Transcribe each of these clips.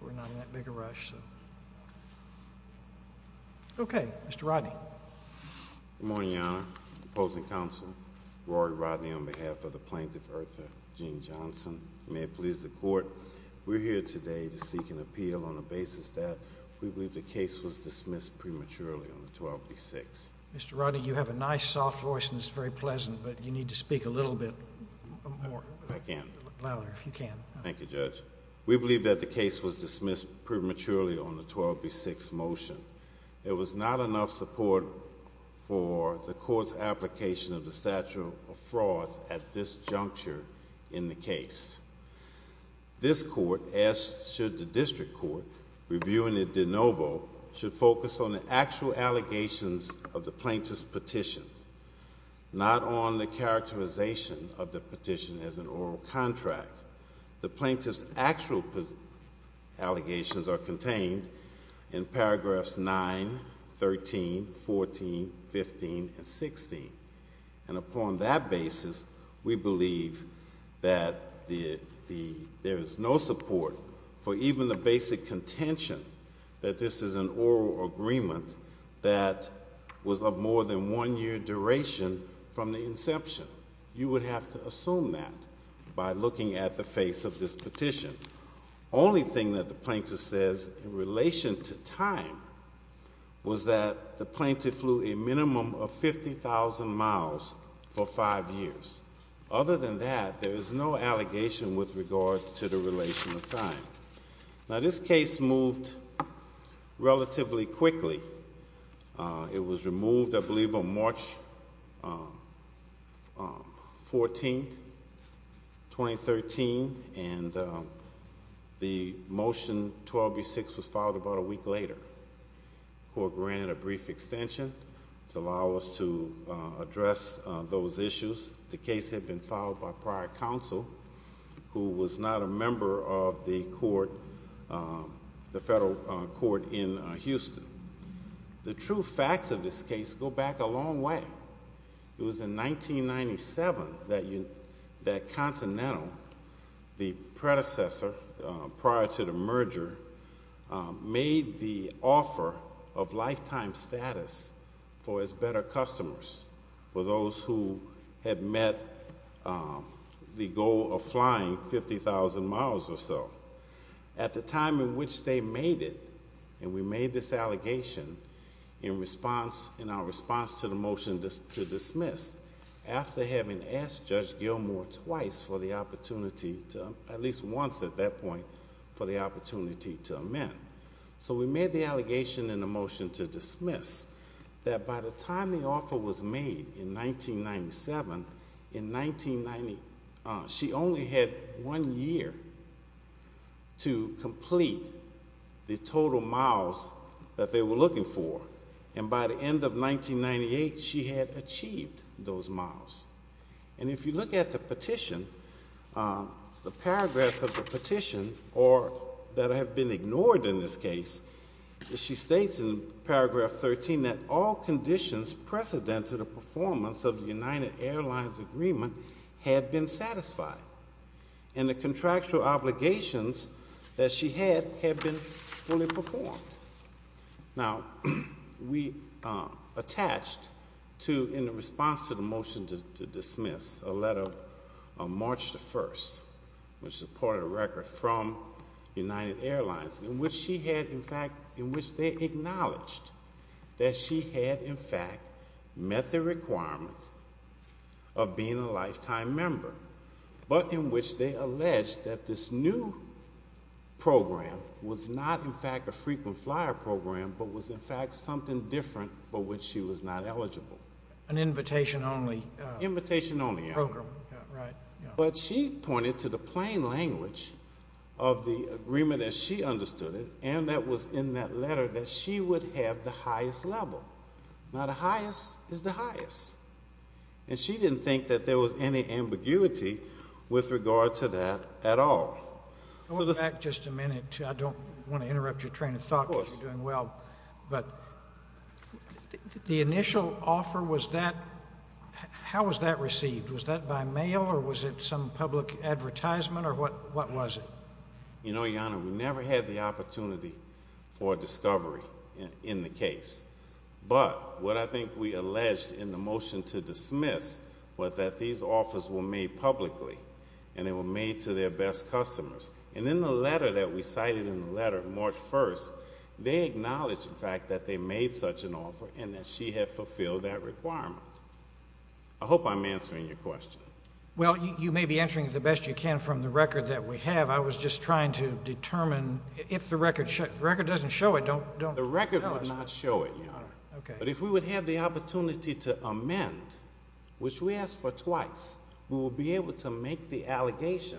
We're not in that big a rush, so... Okay, Mr. Rodney. Good morning, Your Honor. Opposing counsel, Rory Rodney on behalf of the plaintiff, Ertha Jean Johnson. May it please the court, we're here today to seek an appeal on the basis that we believe the case was dismissed prematurely on the 12th of the 6th. Mr. Rodney, you have a nice, soft voice, and it's very pleasant, but you need to speak a little bit more. I can. Louder, if you can. Thank you, Judge. We believe that the case was dismissed prematurely on the 12th of the 6th motion. There was not enough support for the court's application of the statute of frauds at this juncture in the case. This court, as should the district court, reviewing it de novo, should focus on the actual allegations of the plaintiff's petition, not on the characterization of the petition as an oral contract. The plaintiff's actual allegations are contained in paragraphs 9, 13, 14, 15, and 16, and upon that basis, we believe that there is no support for even the basic contention that this is an oral agreement that was of more than one year duration from the inception. You would have to assume that by looking at the face of this petition. The only thing that the plaintiff says in relation to time was that the plaintiff flew a minimum of 50,000 miles for five years. Other than that, there is no allegation with regard to the relation of time. Now, this case moved relatively quickly. It was removed, I believe, on March 14, 2013, and the motion 12B6 was filed about a week later. The court granted a brief extension to allow us to address those issues. The case had been filed by prior counsel, who was not a member of the court, the federal court in Houston. The true facts of this case go back a long way. It was in 1997 that Continental, the predecessor prior to the merger, made the offer of lifetime status for its better customers, for those who had met the goal of flying 50,000 miles or so. At the time in which they made it, and we made this allegation in our response to the motion to dismiss, after having asked Judge Gilmour twice for the opportunity, at least once at that point, for the opportunity to amend. So we made the allegation in the motion to dismiss that by the time the offer was made in 1997, she only had one year to complete the total miles that they were looking for. And by the end of 1998, she had achieved those miles. And if you look at the petition, the paragraphs of the petition that have been ignored in this case, she states in paragraph 13 that all conditions precedent to the performance of the United Airlines agreement had been satisfied. And the contractual obligations that she had had been fully performed. Now, we attached to, in response to the motion to dismiss, a letter of March the 1st, which is a part of the record from United Airlines, in which she had, in fact, in which they acknowledged that she had, in fact, met the requirement of being a lifetime member, but in which they alleged that this new program was not, in fact, a frequent flyer program, but was, in fact, something different for which she was not eligible. An invitation only. Invitation only. Program. Right. But she pointed to the plain language of the agreement as she understood it, and that was in that letter that she would have the highest level. Now, the highest is the highest. And she didn't think that there was any ambiguity with regard to that at all. Go back just a minute. I don't want to interrupt your train of thought. Of course. You're doing well. But the initial offer, was that, how was that received? Was that by mail, or was it some public advertisement, or what was it? You know, Your Honor, we never had the opportunity for a discovery in the case. But what I think we alleged in the motion to dismiss was that these offers were made publicly, and they were made to their best customers. And in the letter that we cited in the letter, March 1st, they acknowledged, in fact, that they made such an offer and that she had fulfilled that requirement. I hope I'm answering your question. Well, you may be answering it the best you can from the record that we have. I was just trying to determine if the record doesn't show it. The record would not show it, Your Honor. But if we would have the opportunity to amend, which we asked for twice, we would be able to make the allegation.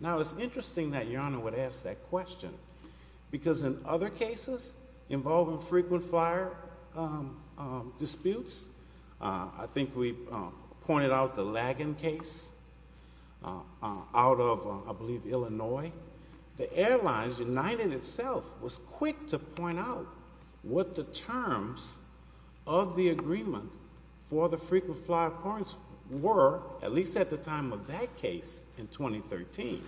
Now, it's interesting that Your Honor would ask that question, because in other cases involving frequent fire disputes, I think we pointed out the Lagon case out of, I believe, Illinois. The Airlines United itself was quick to point out what the terms of the agreement for the frequent fire points were, at least at the time of that case in 2013.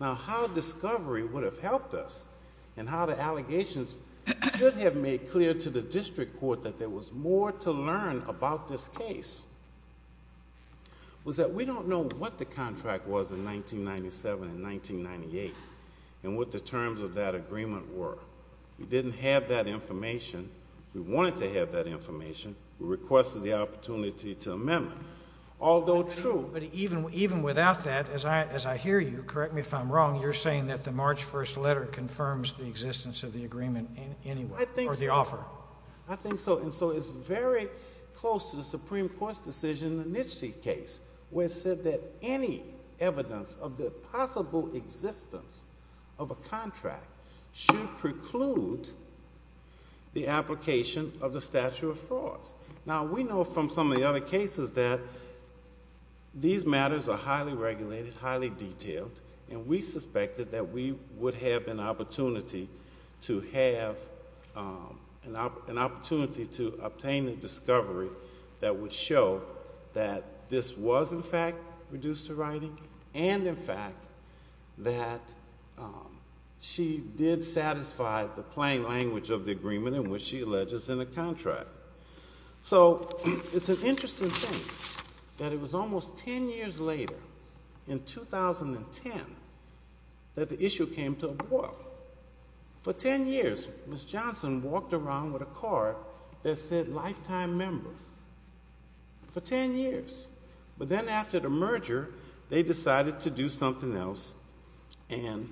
Now, how discovery would have helped us and how the allegations should have made clear to the district court that there was more to learn about this case was that we don't know what the contract was in 1997 and 1998 and what the terms of that agreement were. We didn't have that information. We wanted to have that information. We requested the opportunity to amend it. But even without that, as I hear you, correct me if I'm wrong, you're saying that the March 1st letter confirms the existence of the agreement anyway or the offer. I think so. And so it's very close to the Supreme Court's decision in the Nitsche case where it said that any evidence of the possible existence of a contract should preclude the application of the statute of frauds. Now, we know from some of the other cases that these matters are highly regulated, highly detailed, and we suspected that we would have an opportunity to obtain a discovery that would show that this was, in fact, reduced to writing and, in fact, that she did satisfy the plain language of the agreement in which she alleges in the contract. So it's an interesting thing that it was almost ten years later, in 2010, that the issue came to a boil. For ten years, Ms. Johnson walked around with a card that said lifetime member. For ten years. But then after the merger, they decided to do something else and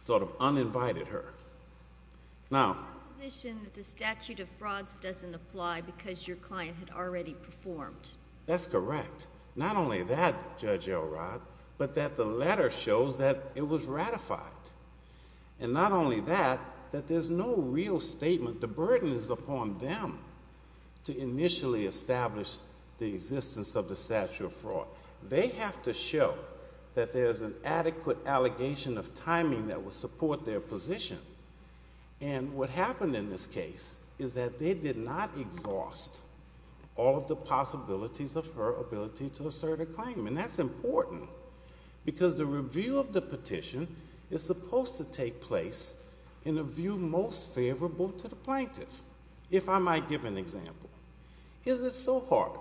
sort of uninvited her. It's my position that the statute of frauds doesn't apply because your client had already performed. That's correct. Not only that, Judge Elrod, but that the letter shows that it was ratified. And not only that, that there's no real statement. The burden is upon them to initially establish the existence of the statute of fraud. They have to show that there's an adequate allegation of timing that would support their position. And what happened in this case is that they did not exhaust all of the possibilities of her ability to assert a claim. And that's important because the review of the petition is supposed to take place in a view most favorable to the plaintiff. If I might give an example. Is it so hard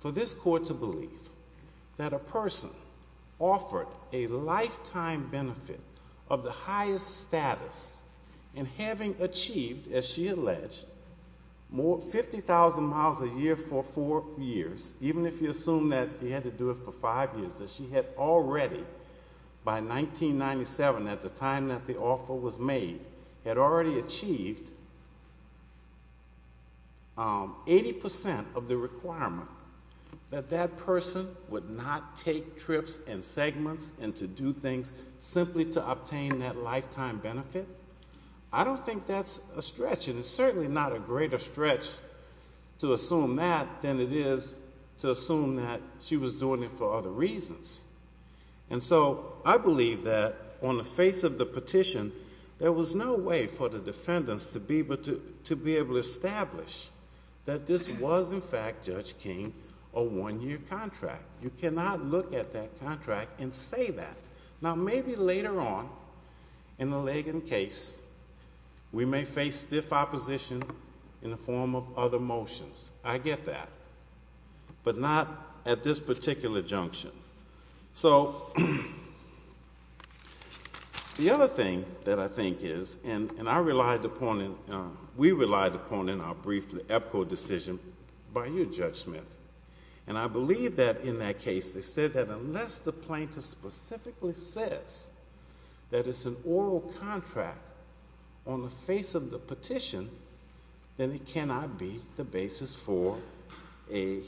for this court to believe that a person offered a lifetime benefit of the highest status in having achieved, as she alleged, 50,000 miles a year for four years, even if you assume that he had to do it for five years, that she had already, by 1997, at the time that the offer was made, had already achieved 80% of the requirement that that person would not take trips and segments and to do things simply to obtain that lifetime benefit? I don't think that's a stretch. And it's certainly not a greater stretch to assume that than it is to assume that she was doing it for other reasons. And so I believe that on the face of the petition, there was no way for the defendants to be able to establish that this was, in fact, Judge King, a one-year contract. You cannot look at that contract and say that. Now, maybe later on in the Lagan case, we may face stiff opposition in the form of other motions. I get that, but not at this particular junction. So the other thing that I think is, and I relied upon and we relied upon in our brief the EPCO decision by you, Judge Smith, and I believe that in that case, they said that unless the plaintiff specifically says that it's an oral contract on the face of the petition, then it cannot be the basis for a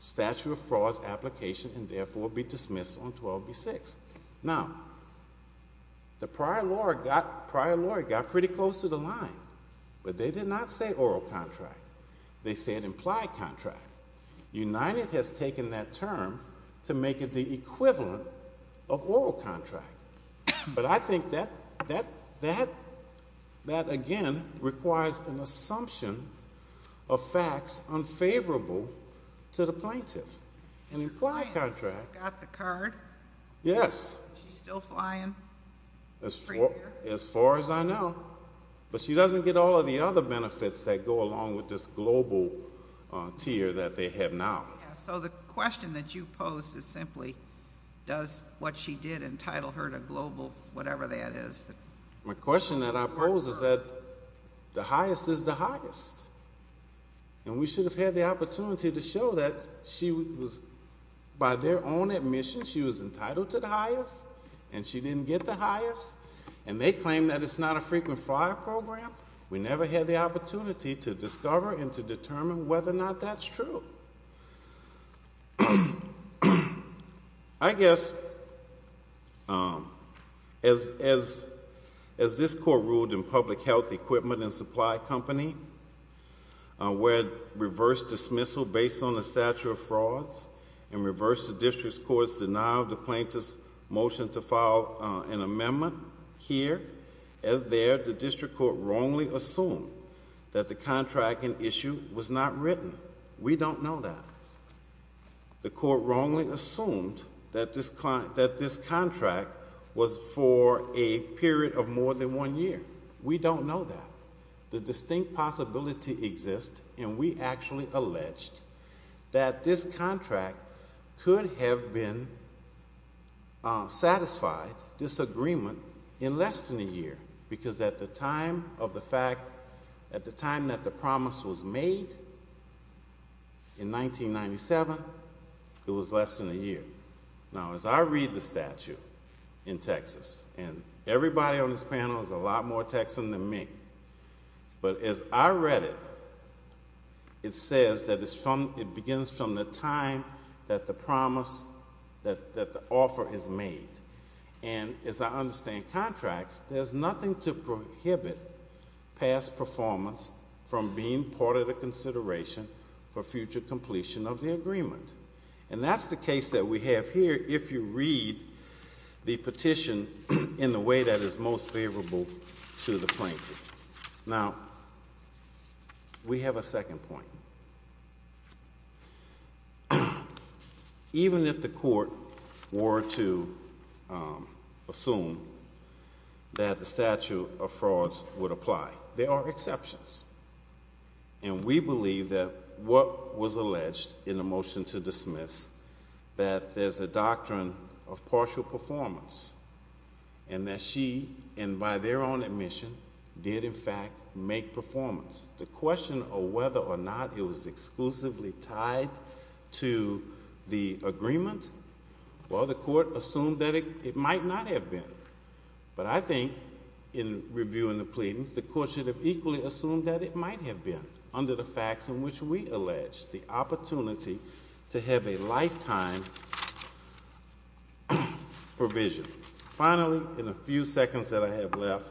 statute of frauds application and therefore be dismissed on 12B6. Now, the prior lawyer got pretty close to the line, but they did not say oral contract. They said implied contract. United has taken that term to make it the equivalent of oral contract. But I think that, again, requires an assumption of facts unfavorable to the plaintiff. An implied contract. Got the card? Yes. She's still flying? As far as I know. But she doesn't get all of the other benefits that go along with this global tier that they have now. So the question that you posed is simply, does what she did entitle her to global whatever that is? My question that I pose is that the highest is the highest. And we should have had the opportunity to show that she was, by their own admission, she was entitled to the highest and she didn't get the highest. And they claim that it's not a frequent flyer program. We never had the opportunity to discover and to determine whether or not that's true. I guess as this court ruled in public health equipment and supply company, where it reversed dismissal based on a statute of frauds and reversed the district court's denial of the plaintiff's motion to file an amendment here, as there the district court wrongly assumed that the contract in issue was not written. We don't know that. The court wrongly assumed that this contract was for a period of more than one year. We don't know that. The distinct possibility exists, and we actually alleged that this contract could have been satisfied, disagreement, in less than a year. Because at the time of the fact, at the time that the promise was made in 1997, it was less than a year. Now, as I read the statute in Texas, and everybody on this panel is a lot more Texan than me, but as I read it, it says that it begins from the time that the promise, that the offer is made. And as I understand contracts, there's nothing to prohibit past performance from being part of the consideration for future completion of the agreement. And that's the case that we have here if you read the petition in the way that is most favorable to the plaintiff. Now, we have a second point. Even if the court were to assume that the statute of frauds would apply, there are exceptions. And we believe that what was alleged in the motion to dismiss, that there's a doctrine of partial performance, and that she, and by their own admission, did in fact make performance. The question of whether or not it was exclusively tied to the agreement, well, the court assumed that it might not have been. But I think in reviewing the pleadings, the court should have equally assumed that it might have been, under the facts in which we allege the opportunity to have a lifetime provision. Finally, in the few seconds that I have left,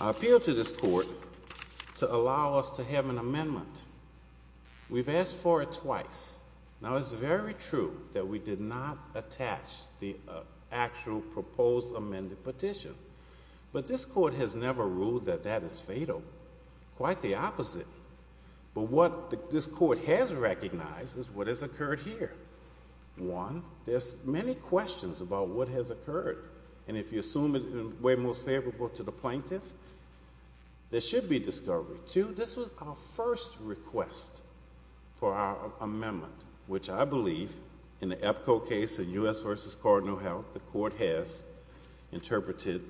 I appeal to this court to allow us to have an amendment. We've asked for it twice. Now, it's very true that we did not attach the actual proposed amended petition. But this court has never ruled that that is fatal. Quite the opposite. But what this court has recognized is what has occurred here. One, there's many questions about what has occurred. And if you assume it in the way most favorable to the plaintiff, there should be discovery. Two, this was our first request for our amendment, which I believe, in the EPCO case, the U.S. versus Cardinal Health, the court has interpreted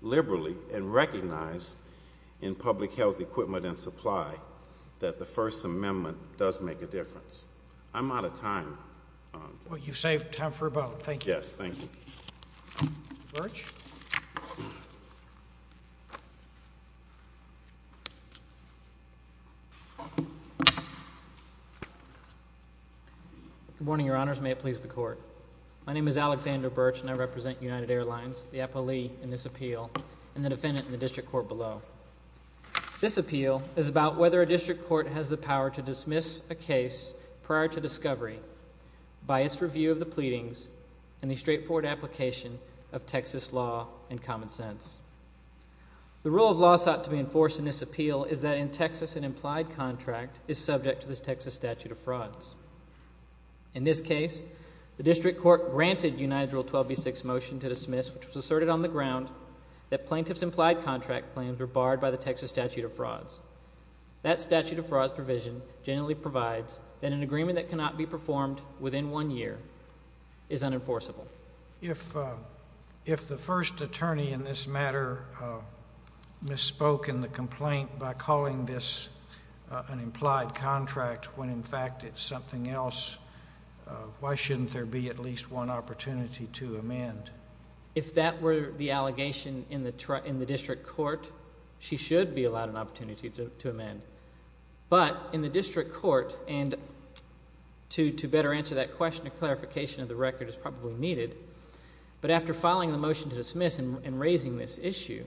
liberally and recognized in public health equipment and supply that the first amendment does make a difference. I'm out of time. Well, you've saved time for about a minute. Yes, thank you. Mr. Birch? Good morning, Your Honors. May it please the court. My name is Alexander Birch, and I represent United Airlines, the appellee in this appeal, and the defendant in the district court below. This appeal is about whether a district court has the power to dismiss a case prior to discovery by its review of the pleadings and the straightforward application of Texas law and common sense. The rule of law sought to be enforced in this appeal is that in Texas, an implied contract is subject to this Texas statute of frauds. In this case, the district court granted United Rule 12b-6 motion to dismiss, which was asserted on the ground that plaintiff's implied contract claims were barred by the Texas statute of frauds. That statute of frauds provision generally provides that an agreement that cannot be performed within one year is unenforceable. If the first attorney in this matter misspoke in the complaint by calling this an implied contract when, in fact, it's something else, why shouldn't there be at least one opportunity to amend? If that were the allegation in the district court, she should be allowed an opportunity to amend. But in the district court, and to better answer that question, a clarification of the record is probably needed, but after filing the motion to dismiss and raising this issue,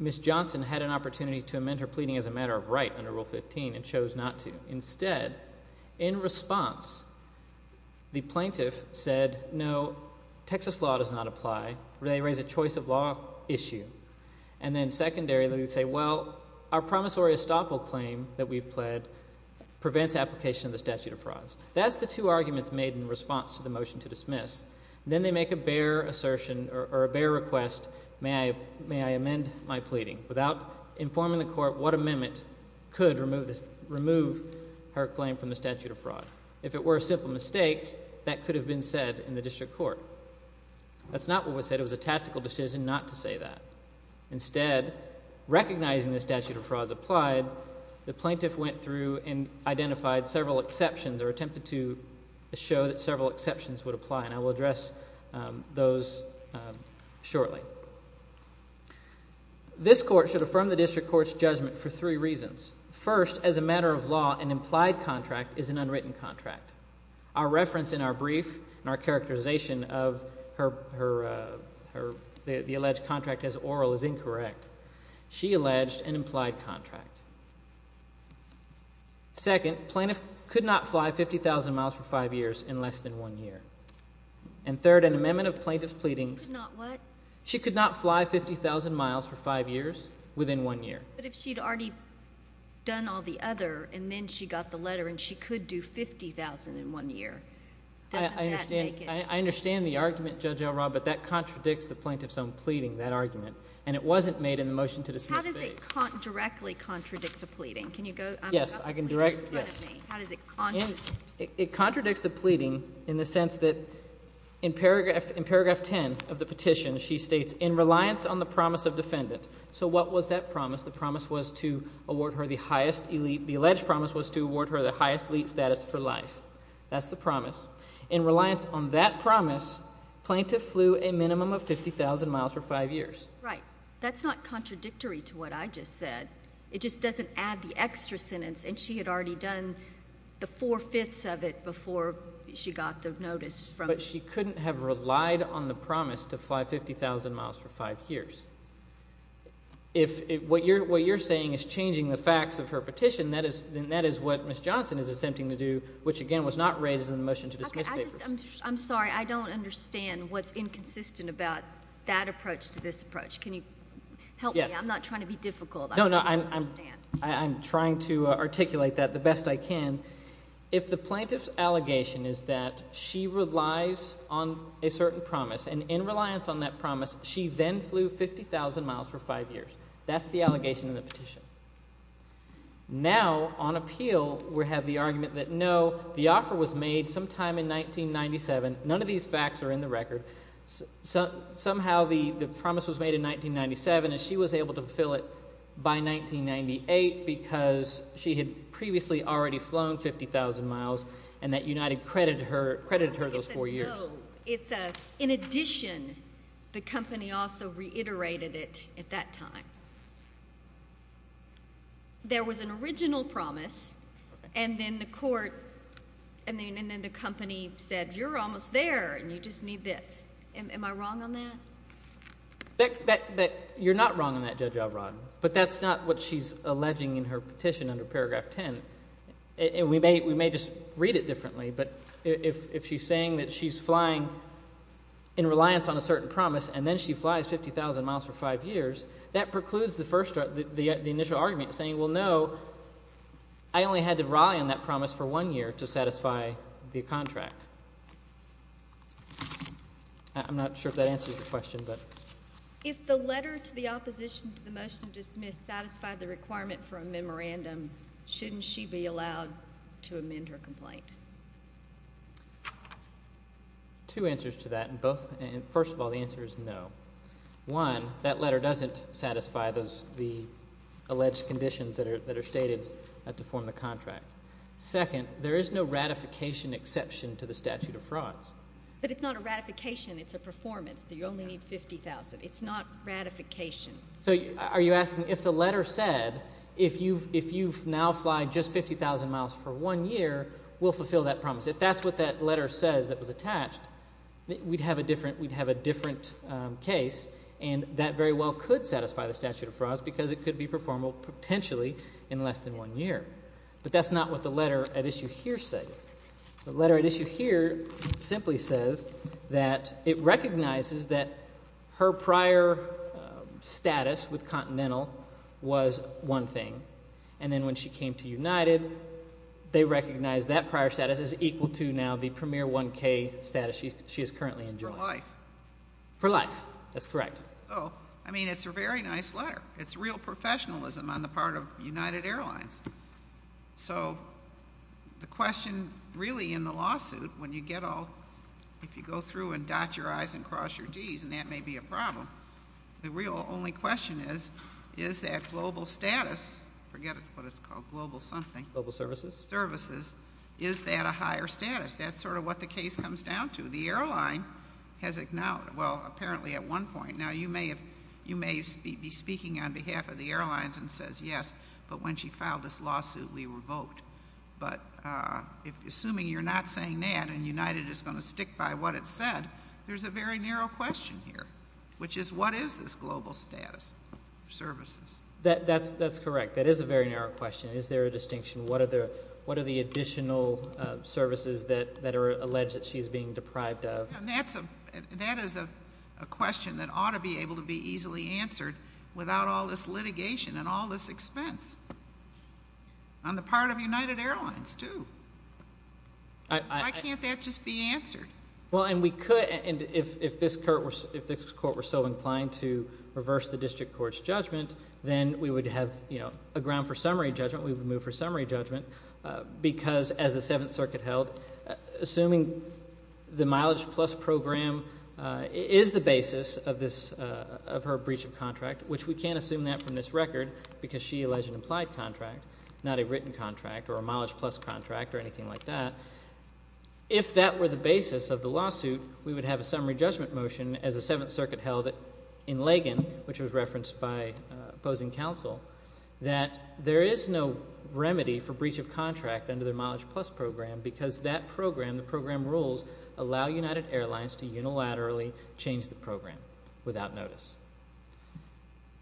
Miss Johnson had an opportunity to amend her pleading as a matter of right under Rule 15 and chose not to. Instead, in response, the plaintiff said, no, Texas law does not apply. They raise a choice of law issue. And then secondarily, they say, well, our promissory estoppel claim that we've pled prevents application of the statute of frauds. That's the two arguments made in response to the motion to dismiss. Then they make a bare assertion or a bare request, may I amend my pleading, without informing the court what amendment could remove her claim from the statute of fraud. If it were a simple mistake, that could have been said in the district court. That's not what was said. It was a tactical decision not to say that. Instead, recognizing the statute of frauds applied, the plaintiff went through and identified several exceptions or attempted to show that several exceptions would apply, and I will address those shortly. This court should affirm the district court's judgment for three reasons. First, as a matter of law, an implied contract is an unwritten contract. Our reference in our brief and our characterization of the alleged contract as oral is incorrect. She alleged an implied contract. Second, plaintiff could not fly 50,000 miles for five years in less than one year. And third, an amendment of plaintiff's pleadings. She could not what? She could not fly 50,000 miles for five years within one year. But if she'd already done all the other and then she got the letter and she could do 50,000 in one year, doesn't that make it? I understand the argument, Judge Elrod, but that contradicts the plaintiff's own pleading, that argument, and it wasn't made in the motion to dismiss phase. How does it directly contradict the pleading? Yes, I can direct this. How does it contradict? It contradicts the pleading in the sense that in paragraph 10 of the petition, she states, in reliance on the promise of defendant. So what was that promise? The promise was to award her the highest elite. The alleged promise was to award her the highest elite status for life. That's the promise. In reliance on that promise, plaintiff flew a minimum of 50,000 miles for five years. Right. That's not contradictory to what I just said. It just doesn't add the extra sentence, and she had already done the four-fifths of it before she got the notice. But she couldn't have relied on the promise to fly 50,000 miles for five years. If what you're saying is changing the facts of her petition, then that is what Ms. Johnson is attempting to do, which, again, was not raised in the motion to dismiss papers. I'm sorry. I don't understand what's inconsistent about that approach to this approach. Can you help me? Yes. I'm not trying to be difficult. No, no. I'm trying to articulate that the best I can. If the plaintiff's allegation is that she relies on a certain promise, and in reliance on that promise, she then flew 50,000 miles for five years, that's the allegation in the petition. Now, on appeal, we have the argument that, no, the offer was made sometime in 1997. None of these facts are in the record. Somehow the promise was made in 1997, and she was able to fulfill it by 1998 because she had previously already flown 50,000 miles, and that United credited her those four years. No. In addition, the company also reiterated it at that time. There was an original promise, and then the court, and then the company said, you're almost there, and you just need this. Am I wrong on that? You're not wrong on that, Judge Elrod, but that's not what she's alleging in her petition under paragraph 10. We may just read it differently, but if she's saying that she's flying in reliance on a certain promise, and then she flies 50,000 miles for five years, that precludes the initial argument saying, well, no, I only had to rely on that promise for one year to satisfy the contract. I'm not sure if that answers the question. If the letter to the opposition to the motion dismissed satisfied the requirement for a memorandum, shouldn't she be allowed to amend her complaint? Two answers to that. First of all, the answer is no. One, that letter doesn't satisfy the alleged conditions that are stated to form the contract. Second, there is no ratification exception to the statute of frauds. But it's not a ratification. It's a performance. You only need 50,000. It's not ratification. So are you asking if the letter said if you now fly just 50,000 miles for one year, we'll fulfill that promise? If that's what that letter says that was attached, we'd have a different case, and that very well could satisfy the statute of frauds because it could be performable potentially in less than one year. But that's not what the letter at issue here says. The letter at issue here simply says that it recognizes that her prior status with Continental was one thing. And then when she came to United, they recognized that prior status is equal to now the Premier 1K status she is currently enjoying. For life. For life. That's correct. So, I mean, it's a very nice letter. It's real professionalism on the part of United Airlines. So the question really in the lawsuit, when you get all, if you go through and dot your I's and cross your G's, and that may be a problem. The real only question is, is that global status, forget what it's called, global something. Global services. Services. Is that a higher status? That's sort of what the case comes down to. The airline has acknowledged, well, apparently at one point. Now, you may be speaking on behalf of the airlines and says, yes, but when she filed this lawsuit, we revoked. But assuming you're not saying that and United is going to stick by what it said, there's a very narrow question here. Which is, what is this global status for services? That's correct. That is a very narrow question. Is there a distinction? What are the additional services that are alleged that she is being deprived of? That is a question that ought to be able to be easily answered without all this litigation and all this expense. On the part of United Airlines, too. Why can't that just be answered? Well, and we could, and if this court were so inclined to reverse the district court's judgment, then we would have a ground for summary judgment. We would move for summary judgment. Because as the Seventh Circuit held, assuming the mileage plus program is the basis of her breach of contract, which we can't assume that from this record because she alleged an implied contract, not a written contract or a mileage plus contract or anything like that. If that were the basis of the lawsuit, we would have a summary judgment motion as the Seventh Circuit held in Lagan, which was referenced by opposing counsel. That there is no remedy for breach of contract under the mileage plus program because that program, the program rules, allow United Airlines to unilaterally change the program without notice.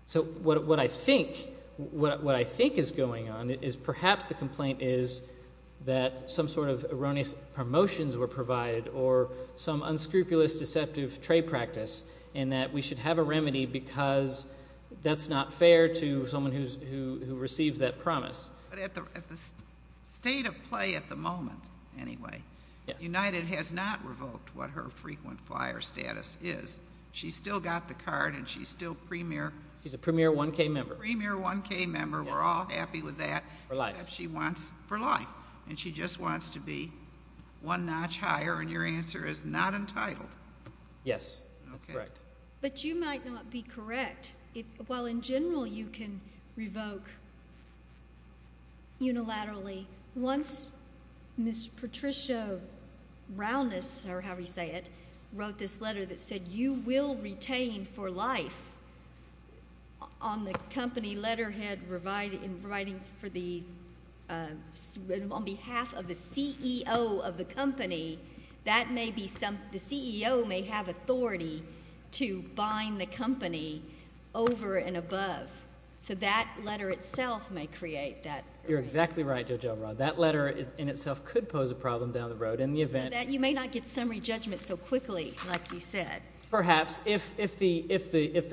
So what I think is going on is perhaps the complaint is that some sort of erroneous promotions were provided or some unscrupulous, deceptive trade practice and that we should have a remedy because that's not fair to someone who receives that promise. But at the state of play at the moment, anyway, United has not revoked what her frequent flyer status is. She's still got the card and she's still premier. She's a premier 1K member. Premier 1K member. We're all happy with that. For life. Except she wants for life and she just wants to be one notch higher and your answer is not entitled. Yes, that's correct. But you might not be correct. While in general you can revoke unilaterally, once Ms. Patricia Rowness, or however you say it, wrote this letter that said you will retain for life on the company letterhead providing for the, on behalf of the CEO of the company, that may be some, the CEO may have authority to bind the company over and above. So that letter itself may create that. You're exactly right, Judge Elrod. That letter in itself could pose a problem down the road in the event. You may not get summary judgment so quickly like you said. Perhaps. If the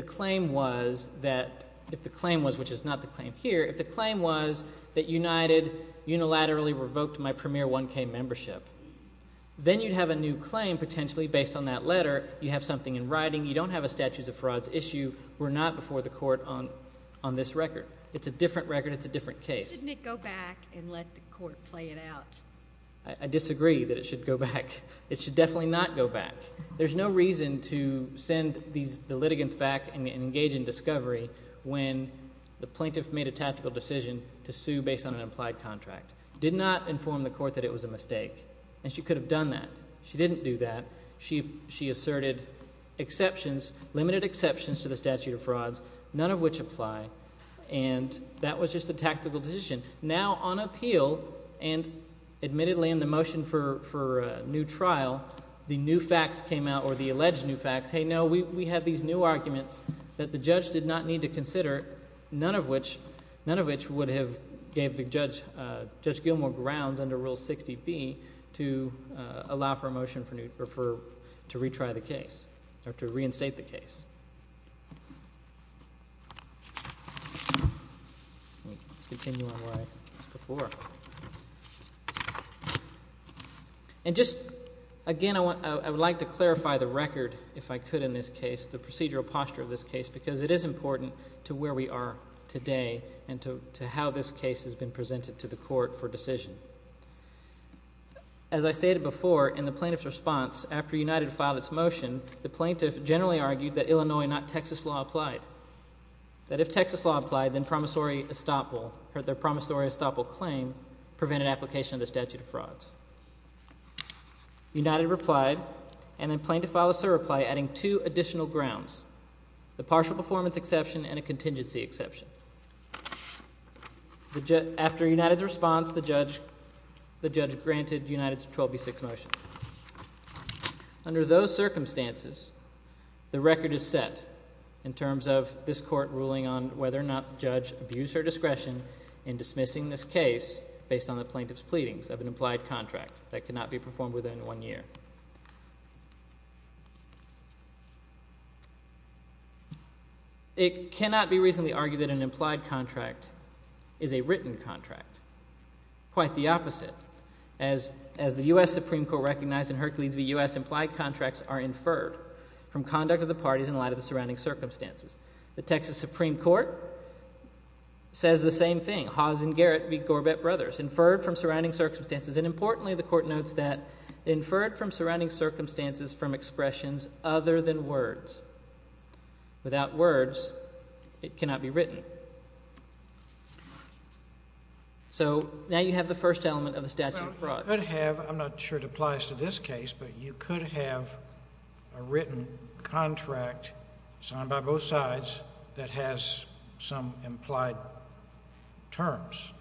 claim was that, if the claim was, which is not the claim here, if the claim was that United unilaterally revoked my premier 1K membership, then you'd have a new claim potentially based on that letter. You have something in writing. You don't have a statutes of frauds issue. We're not before the court on this record. It's a different record. It's a different case. Shouldn't it go back and let the court play it out? I disagree that it should go back. It should definitely not go back. There's no reason to send these, the litigants back and engage in discovery when the plaintiff made a tactical decision to sue based on an implied contract. Did not inform the court that it was a mistake, and she could have done that. She didn't do that. She asserted exceptions, limited exceptions to the statute of frauds, none of which apply, and that was just a tactical decision. Now, on appeal, and admittedly in the motion for a new trial, the new facts came out or the alleged new facts. Hey, no, we have these new arguments that the judge did not need to consider, none of which would have gave Judge Gilmore grounds under Rule 60B to allow for a motion to retry the case or to reinstate the case. Let me continue on where I was before. And just, again, I would like to clarify the record, if I could in this case, the procedural posture of this case, because it is important to where we are today and to how this case has been presented to the court for decision. As I stated before, in the plaintiff's response, after United filed its motion, the plaintiff generally argued that Illinois, not Texas, law applied. That if Texas law applied, then promissory estoppel, or their promissory estoppel claim, prevented application of the statute of frauds. United replied, and then plaintiff filed a surreply adding two additional grounds, the partial performance exception and a contingency exception. After United's response, the judge granted United's 12B6 motion. Under those circumstances, the record is set in terms of this court ruling on whether or not the judge abused her discretion in dismissing this case based on the plaintiff's pleadings of an implied contract that cannot be performed within one year. It cannot be reasonably argued that an implied contract is a written contract. Quite the opposite. As the U.S. Supreme Court recognized in Hercules v. U.S., implied contracts are inferred from conduct of the parties in light of the surrounding circumstances. The Texas Supreme Court says the same thing. Hawes and Garrett v. Gorbett Brothers. Inferred from surrounding circumstances. And importantly, the court notes that inferred from surrounding circumstances from expressions other than words. Without words, it cannot be written. So now you have the first element of the statute of frauds. I'm not sure it applies to this case, but you could have a written contract signed by both sides that has some implied terms.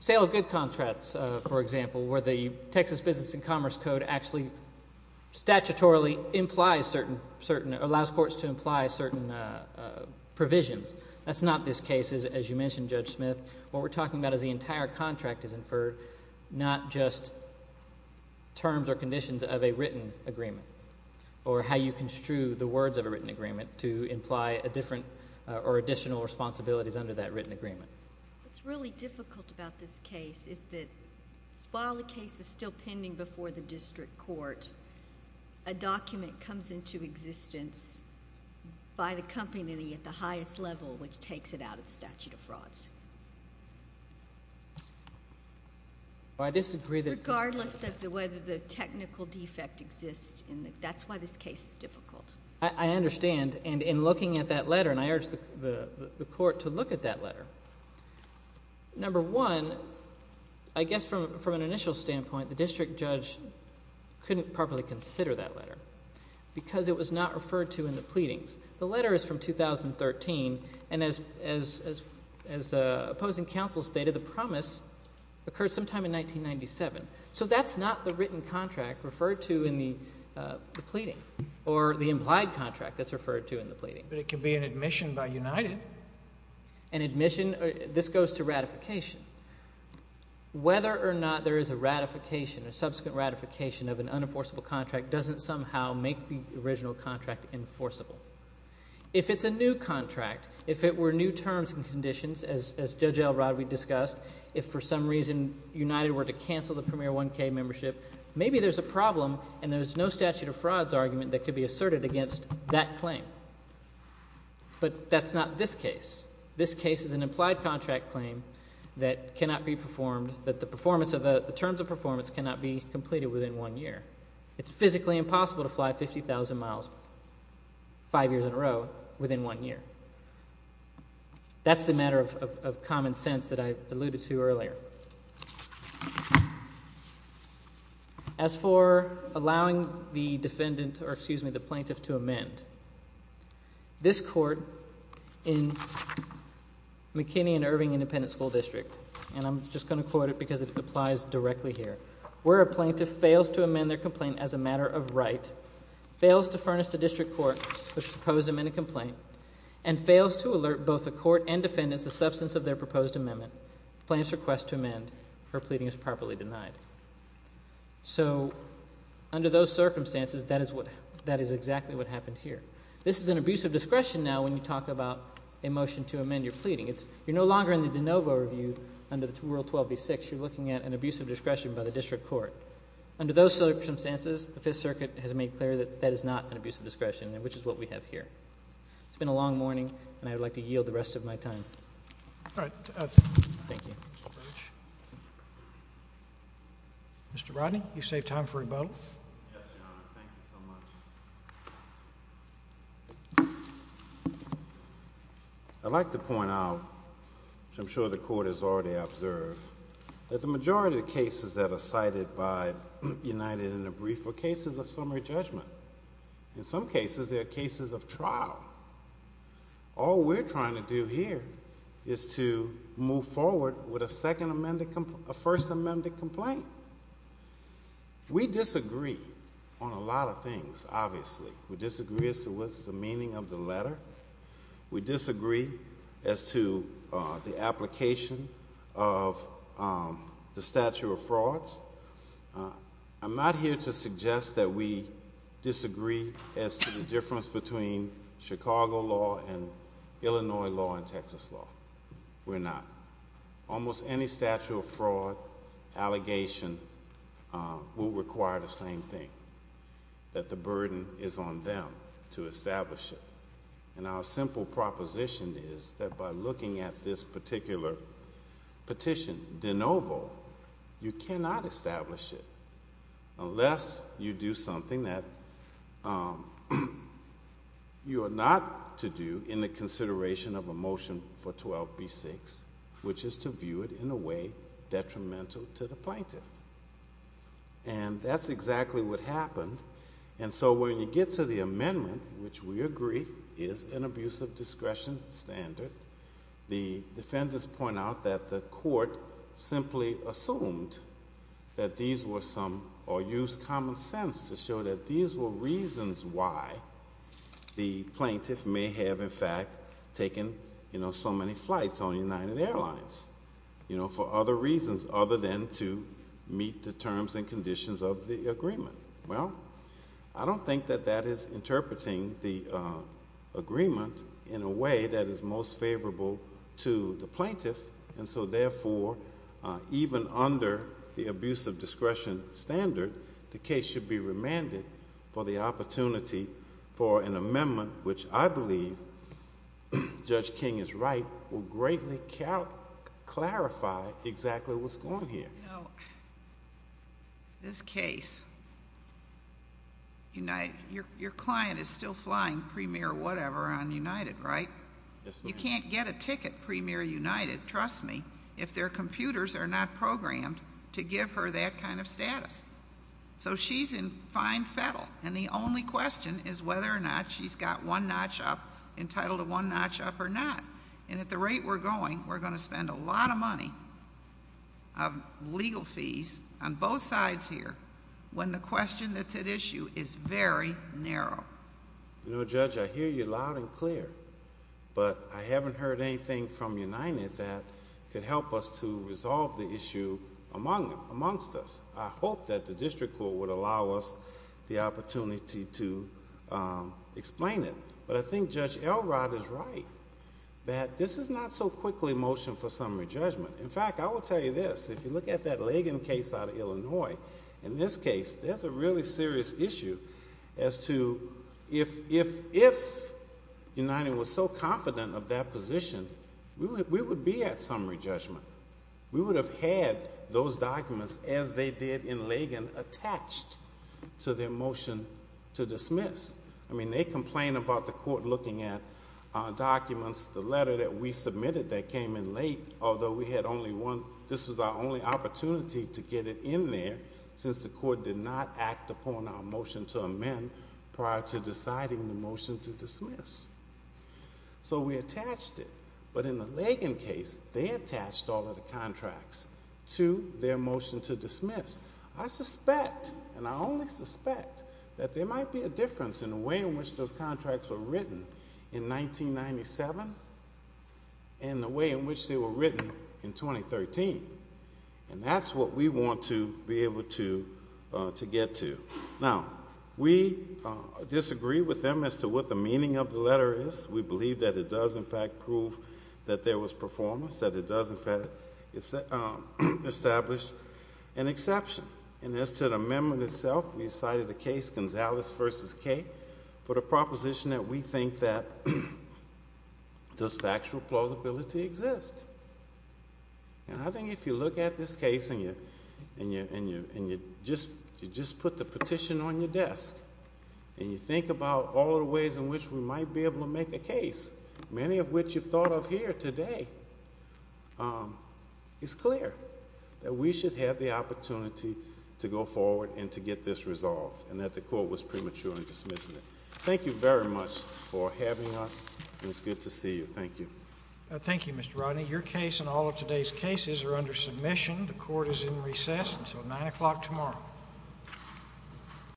Sale of good contracts, for example, where the Texas Business and Commerce Code actually statutorily implies certain – allows courts to imply certain provisions. That's not this case, as you mentioned, Judge Smith. What we're talking about is the entire contract is inferred, not just terms or conditions of a written agreement or how you construe the words of a written agreement to imply a different or additional responsibilities under that written agreement. What's really difficult about this case is that while the case is still pending before the district court, a document comes into existence by the company at the highest level, which takes it out of the statute of frauds. I disagree that – Regardless of whether the technical defect exists in the – that's why this case is difficult. I understand, and in looking at that letter, and I urge the court to look at that letter, number one, I guess from an initial standpoint, the district judge couldn't properly consider that letter because it was not referred to in the pleadings. The letter is from 2013, and as opposing counsel stated, the promise occurred sometime in 1997. So that's not the written contract referred to in the pleading or the implied contract that's referred to in the pleading. But it can be an admission by United. An admission – this goes to ratification. Whether or not there is a ratification, a subsequent ratification of an unenforceable contract doesn't somehow make the original contract enforceable. If it's a new contract, if it were new terms and conditions, as Judge L. Rodwe discussed, if for some reason United were to cancel the Premier 1K membership, maybe there's a problem and there's no statute of frauds argument that could be asserted against that claim. But that's not this case. This case is an implied contract claim that cannot be performed – that the performance of the – the terms of performance cannot be completed within one year. It's physically impossible to fly 50,000 miles five years in a row within one year. That's the matter of common sense that I alluded to earlier. As for allowing the defendant – or excuse me, the plaintiff to amend, this court in McKinney and Irving Independent School District – and I'm just going to quote it because it applies directly here. Where a plaintiff fails to amend their complaint as a matter of right, fails to furnish the district court with the proposed amended complaint, and fails to alert both the court and defendants the substance of their proposed amendment, the plaintiff's request to amend, her pleading is properly denied. So under those circumstances, that is what – that is exactly what happened here. This is an abuse of discretion now when you talk about a motion to amend your pleading. It's – you're no longer in the de novo review under Rule 12b-6. You're looking at an abuse of discretion by the district court. Under those circumstances, the Fifth Circuit has made clear that that is not an abuse of discretion, which is what we have here. It's been a long morning, and I would like to yield the rest of my time. All right. Thank you. Mr. Rodney, you've saved time for rebuttal. Yes, Your Honor. Thank you so much. I'd like to point out, which I'm sure the court has already observed, that the majority of cases that are cited by United in the brief are cases of summary judgment. In some cases, they are cases of trial. All we're trying to do here is to move forward with a second amended – a first amended complaint. We disagree on a lot of things, obviously. We disagree as to what's the meaning of the letter. We disagree as to the application of the statute of frauds. I'm not here to suggest that we disagree as to the difference between Chicago law and Illinois law and Texas law. We're not. Almost any statute of fraud allegation will require the same thing, that the burden is on them to establish it. And our simple proposition is that by looking at this particular petition de novo, you cannot establish it unless you do something that you are not to do in the consideration of a motion for 12b-6, which is to view it in a way detrimental to the plaintiff. And that's exactly what happened. And so when you get to the amendment, which we agree is an abuse of discretion standard, the defendants point out that the court simply assumed that these were some – or used common sense to show that these were reasons why the plaintiff may have, in fact, taken so many flights on United Airlines for other reasons other than to meet the terms and conditions of the agreement. Well, I don't think that that is interpreting the agreement in a way that is most favorable to the plaintiff. And so therefore, even under the abuse of discretion standard, the case should be remanded for the opportunity for an amendment, which I believe, Judge King is right, will greatly clarify exactly what's going on here. You know, this case, your client is still flying Premier whatever on United, right? Yes, ma'am. You can't get a ticket Premier United, trust me, if their computers are not programmed to give her that kind of status. So she's in fine fettle, and the only question is whether or not she's got one notch up, entitled to one notch up or not. And at the rate we're going, we're going to spend a lot of money of legal fees on both sides here when the question that's at issue is very narrow. You know, Judge, I hear you loud and clear, but I haven't heard anything from United that could help us to resolve the issue amongst us. I hope that the district court would allow us the opportunity to explain it. But I think Judge Elrod is right that this is not so quickly motioned for summary judgment. In fact, I will tell you this. If you look at that Lagan case out of Illinois, in this case, there's a really serious issue as to if United was so confident of that position, we would be at summary judgment. We would have had those documents as they did in Lagan attached to their motion to dismiss. I mean, they complain about the court looking at documents, the letter that we submitted that came in late, although we had only one. This was our only opportunity to get it in there since the court did not act upon our motion to amend prior to deciding the motion to dismiss. So we attached it. But in the Lagan case, they attached all of the contracts to their motion to dismiss. I suspect, and I only suspect, that there might be a difference in the way in which those contracts were written in 1997 and the way in which they were written in 2013. And that's what we want to be able to get to. Now, we disagree with them as to what the meaning of the letter is. We believe that it does, in fact, prove that there was performance, that it does, in fact, establish an exception. And as to the amendment itself, we cited a case, Gonzales v. Kate, for the proposition that we think that does factual plausibility exist? And I think if you look at this case and you just put the petition on your desk and you think about all of the ways in which we might be able to make a case, many of which you've thought of here today, it's clear that we should have the opportunity to go forward and to get this resolved and that the court was premature in dismissing it. Thank you very much for having us, and it's good to see you. Thank you. Thank you, Mr. Rodney. Your case and all of today's cases are under submission. The court is in recess until 9 o'clock tomorrow.